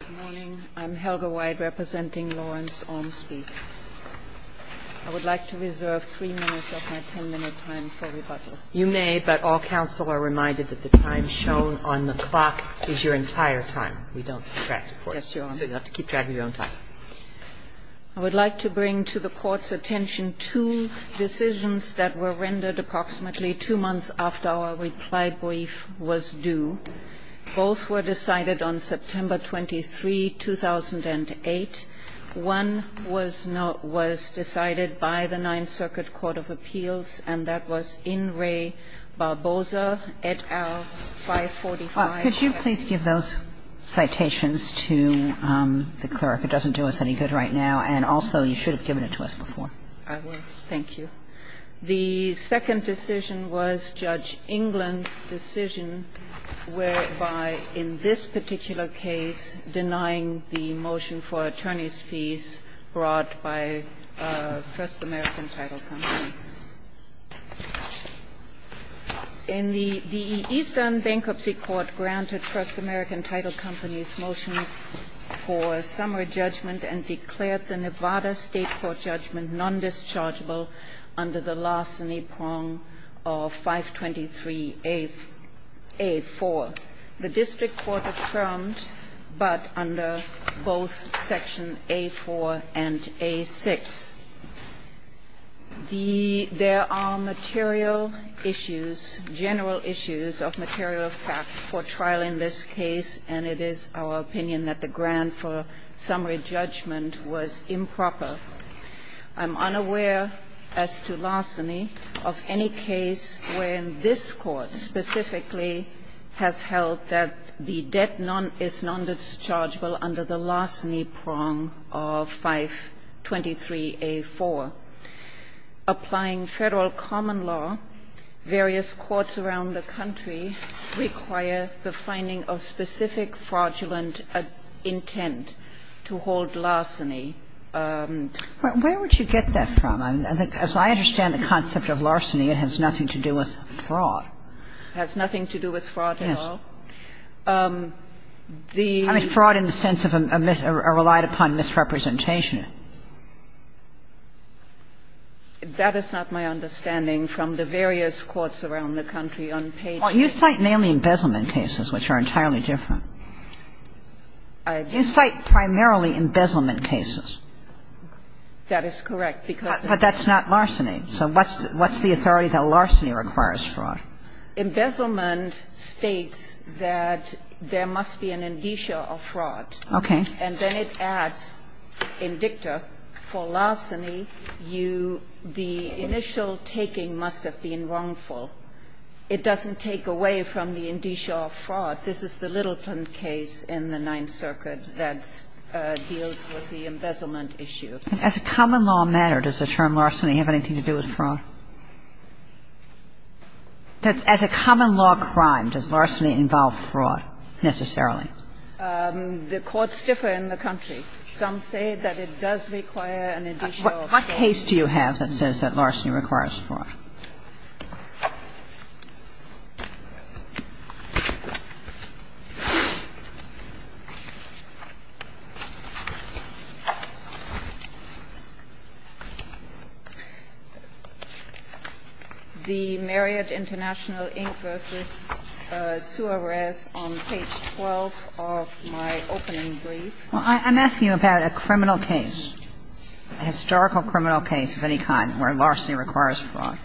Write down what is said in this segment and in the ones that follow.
Good morning. I'm Helga White representing Lawrence Ormsby. I would like to reserve 3 minutes of my 10-minute time for rebuttal. You may, but all counsel are reminded that the time shown on the clock is your entire time. We don't subtract it for you. Yes, Your Honor. So you'll have to keep track of your own time. I would like to bring to the Court's attention two decisions that were rendered approximately two months after our reply brief was due. Both were decided on September 23, 2008. One was not was decided by the Ninth Circuit Court of Appeals, and that was In re Barboza, et al., 545. Could you please give those citations to the clerk? It doesn't do us any good right now. And also, you should have given it to us before. I will. Thank you. The second decision was Judge England's decision whereby, in this particular case, denying the motion for attorneys' fees brought by First American Title Company. In the East End Bankruptcy Court granted First American Title Company's motion for summary judgment and declared the Nevada State court judgment non-dischargeable under the larceny prong of 523A4. The district court affirmed, but under both Section A4 and A6. There are material issues, general issues of material fact for trial in this case, and it is our opinion that the grant for summary judgment was improper. I'm unaware, as to larceny, of any case where this Court specifically has held that the debt is non-dischargeable under the larceny prong of 523A4. Applying Federal common law, various courts around the country require the finding of specific fraudulent intent to hold larceny. Where would you get that from? As I understand the concept of larceny, it has nothing to do with fraud. It has nothing to do with fraud at all. Yes. The ---- I mean, fraud in the sense of a relied-upon misrepresentation. That is not my understanding from the various courts around the country on pages You cite mainly embezzlement cases, which are entirely different. You cite primarily embezzlement cases. That is correct. But that's not larceny. So what's the authority that larceny requires fraud? Embezzlement states that there must be an indicia of fraud. Okay. And then it adds, in dicta, for larceny, you ---- the initial taking must have been wrongful. It doesn't take away from the indicia of fraud. This is the Littleton case in the Ninth Circuit that deals with the embezzlement issue. As a common law matter, does the term larceny have anything to do with fraud? As a common law crime, does larceny involve fraud necessarily? The courts differ in the country. Some say that it does require an indicia of fraud. What case do you have that says that larceny requires fraud? The Marriott International Inc. v. Suarez on page 12 of my opening brief. Well, I'm asking you about a criminal case, a historical criminal case of any kind, where larceny requires fraud.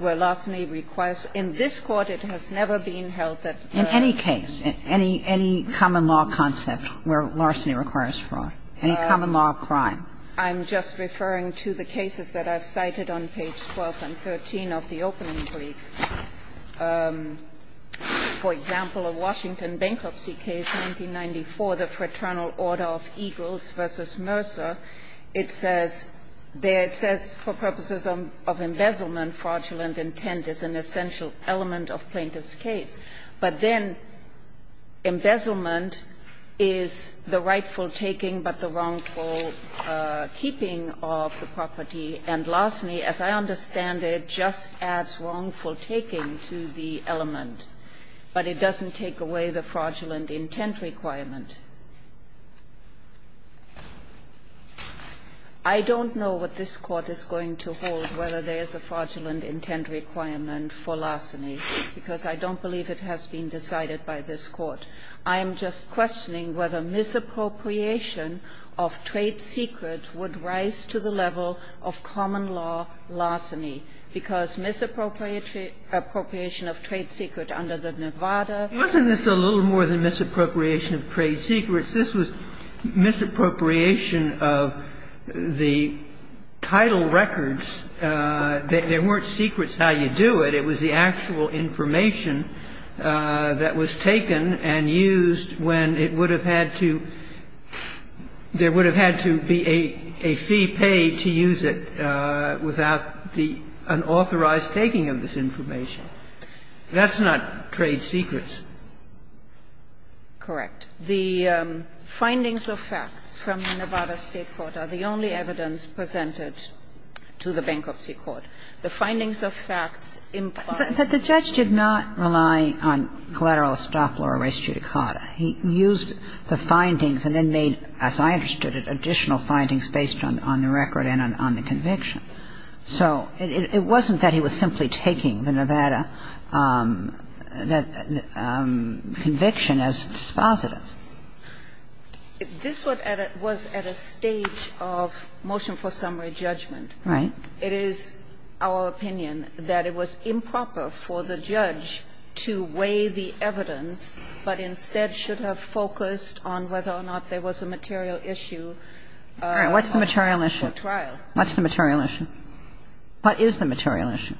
Where larceny requires ---- in this Court it has never been held that ---- In any case, any common law concept where larceny requires fraud, any common law crime. I'm just referring to the cases that I've cited on page 12 and 13 of the opening brief. For example, a Washington bankruptcy case, 1994, the Fraternal Order of Eagles v. Mercer. It says there, it says, for purposes of embezzlement, fraudulent intent is an essential element of plaintiff's case. But then embezzlement is the rightful taking but the wrongful keeping of the property. And larceny, as I understand it, just adds wrongful taking to the element, but it doesn't take away the fraudulent intent requirement. I don't know what this Court is going to hold, whether there's a fraudulent intent requirement for larceny, because I don't believe it has been decided by this Court. I'm just questioning whether misappropriation of trade secrets would rise to the level of common law larceny, because misappropriation of trade secrets under the Nevada Act. Sotomayor, wasn't this a little more than misappropriation of trade secrets? This was misappropriation of the title records. There weren't secrets how you do it. It was the actual information that was taken and used when it would have had to – there would have had to be a fee paid to use it without the unauthorized taking of this information. That's not trade secrets. Correct. The findings of facts from the Nevada State Court are the only evidence presented to the Bankruptcy Court. The findings of facts imply that the judge did not rely on collateral estoppel or res judicata. He used the findings and then made, as I understood it, additional findings based on the record and on the conviction. So it wasn't that he was simply taking the Nevada conviction as dispositive. This was at a stage of motion for summary judgment. Right. It is our opinion that it was improper for the judge to weigh the evidence, but instead should have focused on whether or not there was a material issue. All right. What's the material issue? What's the material issue? What is the material issue?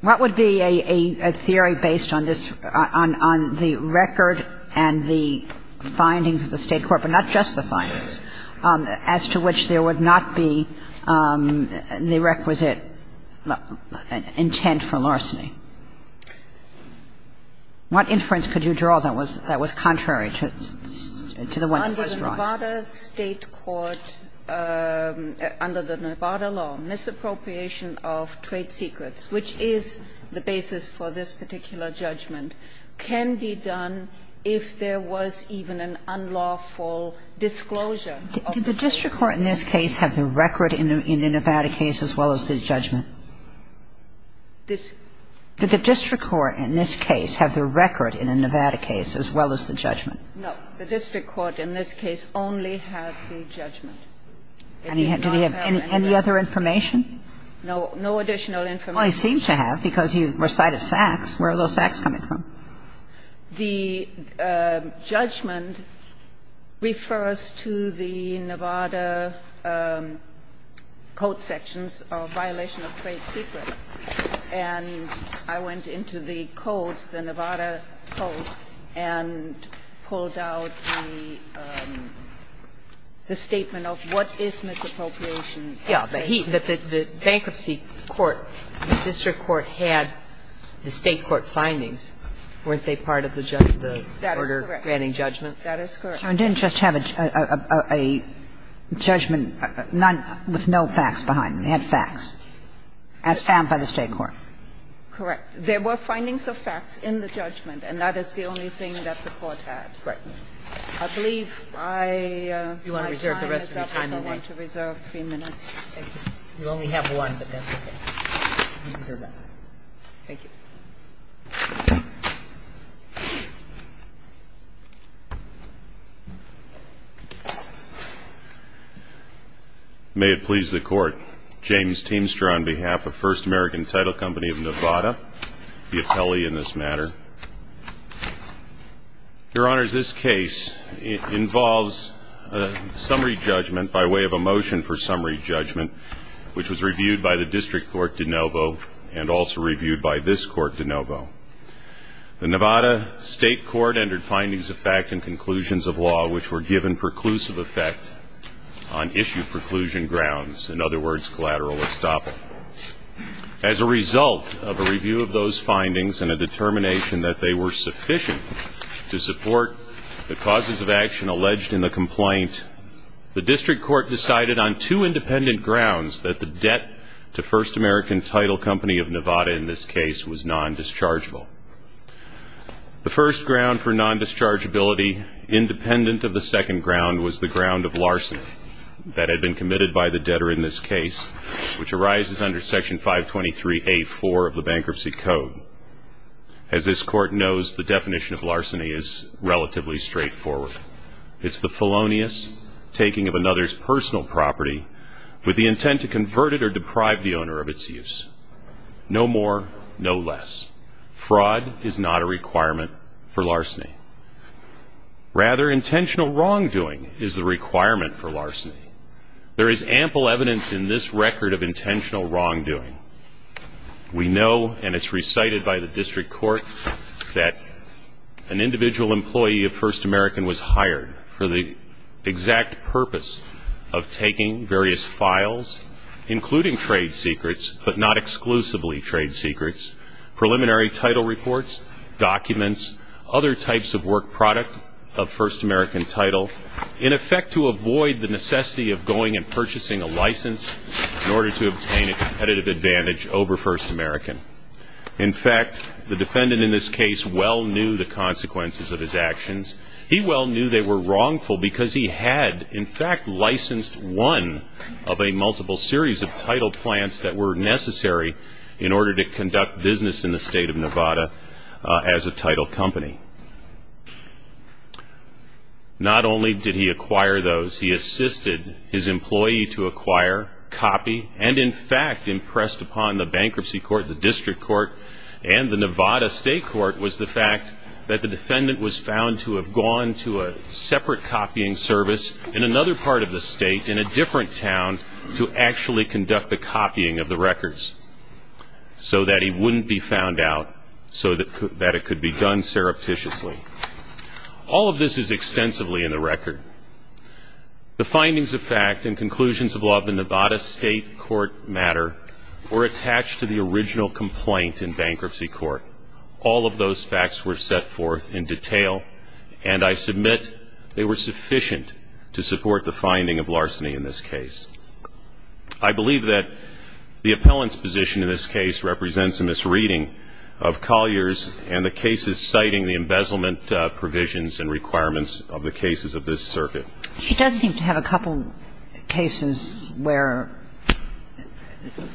What would be a theory based on this – on the record and the findings of the State Court, but not just the findings – as to which there would not be the requisite intent for larceny? What inference could you draw that was contrary to the one that was right? Under the Nevada State Court, under the Nevada law, misappropriation of trade secrets, which is the basis for this particular judgment, can be done if there was even an unlawful disclosure of the trade secrets. Did the district court in this case have the record in the Nevada case as well as the judgment? This – Did the district court in this case have the record in the Nevada case as well as the judgment? No. The district court in this case only had the judgment. Did he have any other information? No. No additional information. Well, he seemed to have, because you recited facts. Where are those facts coming from? The judgment refers to the Nevada code sections of violation of trade secret. And I went into the code, the Nevada code, and pulled out the statement of what is misappropriation. But he, the bankruptcy court, the district court had the State court findings. Weren't they part of the order granting judgment? That is correct. So it didn't just have a judgment with no facts behind it. It had facts, as found by the State court. Correct. There were findings of facts in the judgment, and that is the only thing that the court had. Right. I believe my time is up. I don't want to reserve three minutes. We only have one, but that's okay. Thank you. May it please the Court. James Teamster on behalf of First American Title Company of Nevada, the appellee in this matter. Your Honors, this case involves summary judgment by way of a motion for summary judgment, which was reviewed by the district court de novo, and also reviewed by this court de novo. The Nevada State court entered findings of fact and conclusions of law which were given preclusive effect on issue preclusion grounds, in other words, collateral estoppel. As a result of a review of those findings and a determination that they were sufficient to support the causes of action alleged in the complaint, the district court decided on two independent grounds that the debt to First American Title Company of Nevada in this case was nondischargeable. The first ground for nondischargeability, independent of the second ground, was the ground of larceny that had been committed by the debtor in this case, which arises under Section 523A.4 of the Bankruptcy Code. As this court knows, the definition of larceny is relatively straightforward. It's the felonious taking of another's personal property with the intent to convert it or deprive the owner of its use. No more, no less. Fraud is not a requirement for larceny. Rather, intentional wrongdoing is the requirement for larceny. There is ample evidence in this record of intentional wrongdoing. We know, and it's recited by the district court, that an individual employee of First American was hired for the exact purpose of taking various files, including trade secrets, but not exclusively trade secrets, preliminary title reports, documents, other types of work product of First American title, in effect to avoid the necessity of going and purchasing a license in order to obtain a competitive advantage over First American. In fact, the defendant in this case well knew the consequences of his actions. He well knew they were wrongful because he had, in fact, licensed one of a multiple series of title plans that were necessary in order to conduct business in the state of Nevada as a title company. Not only did he acquire those, he assisted his employee to acquire, copy, and in fact impressed upon the bankruptcy court, the district court, and the Nevada state court was the fact that the defendant was found to have gone to a separate copying service in another part of the state in a different town to actually conduct the copying of the records so that he wouldn't be found out, so that it could be done surreptitiously. All of this is extensively in the record. The findings of fact and conclusions of law of the Nevada state court matter were attached to the original complaint in bankruptcy court. All of those facts were set forth in detail, and I submit they were sufficient to support the finding of larceny in this case. I believe that the appellant's position in this case represents in this reading of I don't have any other cases citing the embezzlement provisions and requirements of the cases of this circuit. She does seem to have a couple cases where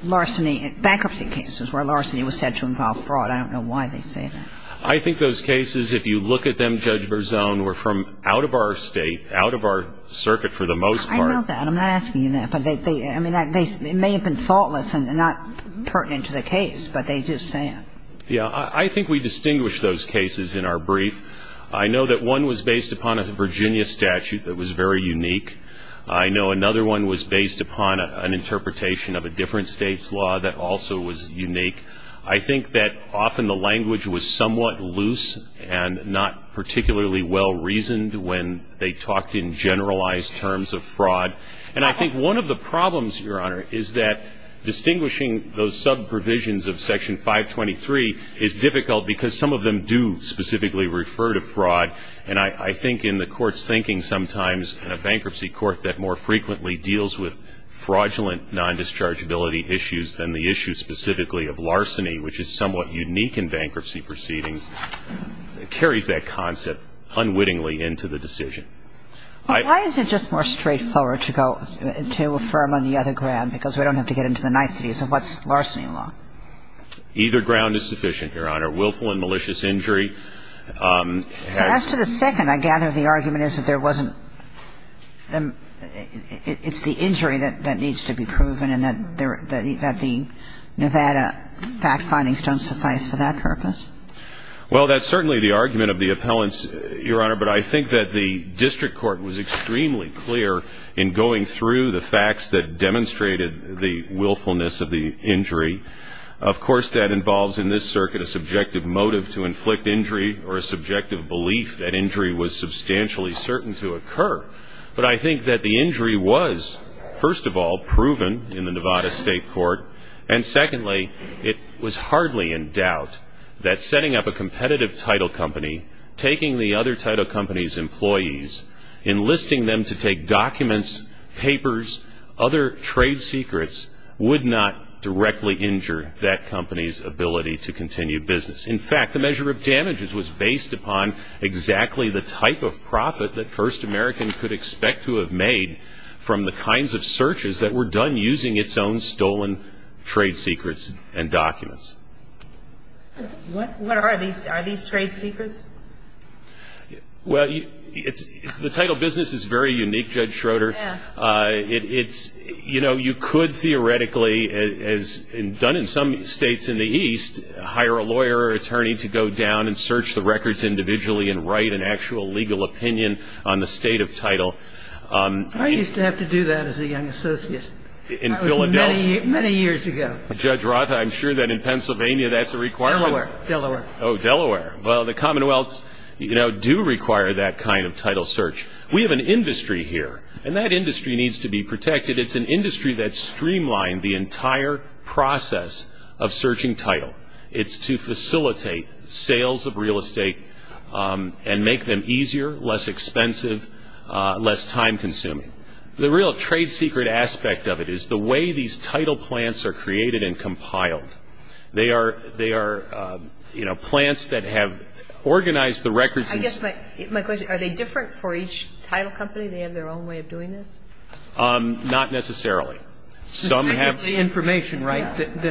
larceny, bankruptcy cases where larceny was said to involve fraud. I don't know why they say that. I think those cases, if you look at them, Judge Berzon, were from out of our state, out of our circuit for the most part. I know that. I'm not asking you that, but they may have been thoughtless and not pertinent to the case, but they just say it. Yeah. I think we distinguish those cases in our brief. I know that one was based upon a Virginia statute that was very unique. I know another one was based upon an interpretation of a different state's law that also was unique. I think that often the language was somewhat loose and not particularly well-reasoned when they talked in generalized terms of fraud. And I think one of the problems, Your Honor, is that distinguishing those sub-provisions of Section 523 is difficult because some of them do specifically refer to fraud. And I think in the Court's thinking sometimes in a bankruptcy court that more frequently deals with fraudulent non-dischargeability issues than the issue specifically of larceny, which is somewhat unique in bankruptcy proceedings, carries that concept unwittingly into the decision. Well, why is it just more straightforward to affirm on the other ground, because we don't have to get into the niceties of what's larceny law? Either ground is sufficient, Your Honor. Willful and malicious injury. So as to the second, I gather the argument is that there wasn't the – it's the injury that needs to be proven and that the Nevada fact findings don't suffice for that purpose? Well, that's certainly the argument of the appellants, Your Honor. But I think that the district court was extremely clear in going through the facts that demonstrated the willfulness of the injury. Of course, that involves in this circuit a subjective motive to inflict injury or a subjective belief that injury was substantially certain to occur. But I think that the injury was, first of all, proven in the Nevada State Court, and secondly, it was hardly in doubt that setting up a competitive title company, taking the other title company's employees, enlisting them to take documents, papers, other trade secrets would not directly injure that company's ability to continue business. In fact, the measure of damages was based upon exactly the type of profit that First American could expect to have made from the kinds of searches that were done using its own stolen trade secrets and documents. What are these? Are these trade secrets? Well, the title business is very unique, Judge Schroeder. You know, you could theoretically, as done in some states in the East, hire a lawyer or attorney to go down and search the records individually and write an actual legal opinion on the state of title. I used to have to do that as a young associate. In Philadelphia? That was many years ago. Judge Roth, I'm sure that in Pennsylvania that's a requirement. Delaware. Oh, Delaware. Well, the commonwealths, you know, do require that kind of title search. We have an industry here, and that industry needs to be protected. It's an industry that streamlined the entire process of searching title. It's to facilitate sales of real estate and make them easier, less expensive, less time-consuming. The real trade secret aspect of it is the way these title plants are created and compiled. They are, you know, plants that have organized the records. I guess my question, are they different for each title company? Do they have their own way of doing this? Not necessarily. So basically information, right? And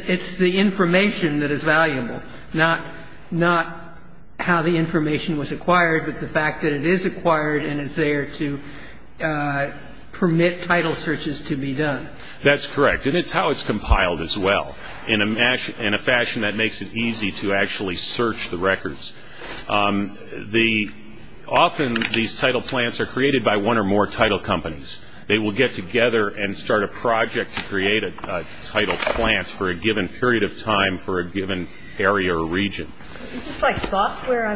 it's the information that is valuable, not how the information was acquired, but the fact that it is acquired and is there to permit title searches to be done. That's correct. And it's how it's compiled as well, in a fashion that makes it easy to actually search the records. Often these title plants are created by one or more title companies. They will get together and start a project to create a title plant for a given period of time for a given area or region. Is this like software?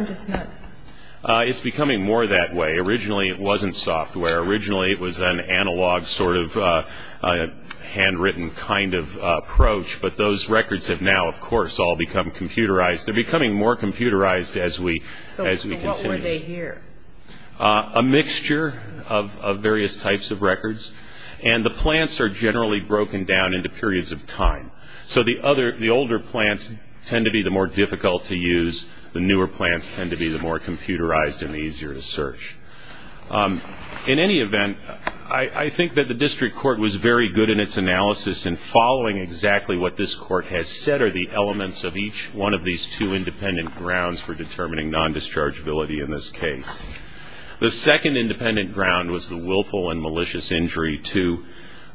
It's becoming more that way. Originally it wasn't software. Originally it was an analog sort of handwritten kind of approach, but those records have now, of course, all become computerized. They're becoming more computerized as we continue. So what were they here? A mixture of various types of records, and the plants are generally broken down into periods of time. So the older plants tend to be the more difficult to use. The newer plants tend to be the more computerized and the easier to search. In any event, I think that the district court was very good in its analysis and following exactly what this court has said are the elements of each one of these two independent grounds for determining non-dischargeability in this case. The second independent ground was the willful and malicious injury to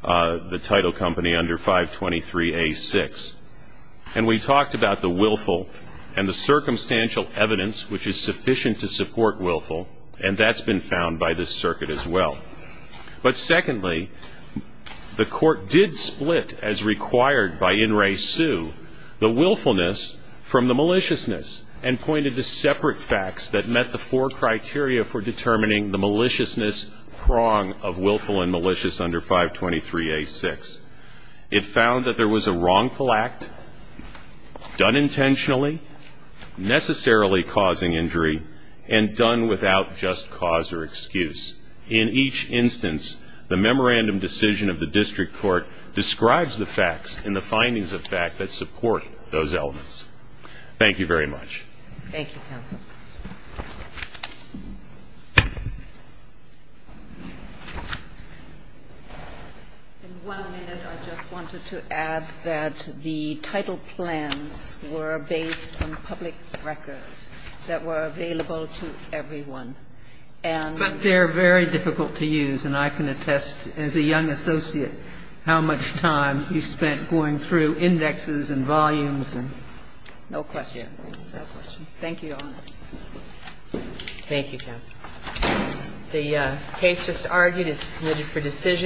the title company under 523A6. And we talked about the willful and the circumstantial evidence which is sufficient to support willful, and that's been found by this circuit as well. But secondly, the court did split, as required by In Re Su, the willfulness from the maliciousness and pointed to separate facts that met the four criteria for determining the maliciousness prong of willful and malicious under 523A6. It found that there was a wrongful act done intentionally, necessarily causing injury, and done without just cause or excuse. In each instance, the memorandum decision of the district court describes the facts and the findings of fact that support those elements. Thank you very much. Thank you, counsel. In one minute, I just wanted to add that the title plans were based on public records that were available to everyone. But they're very difficult to use, and I can attest, as a young associate, how much time you spent going through indexes and volumes. No question. Thank you, Your Honor. Thank you, counsel. The case just argued is submitted for decision.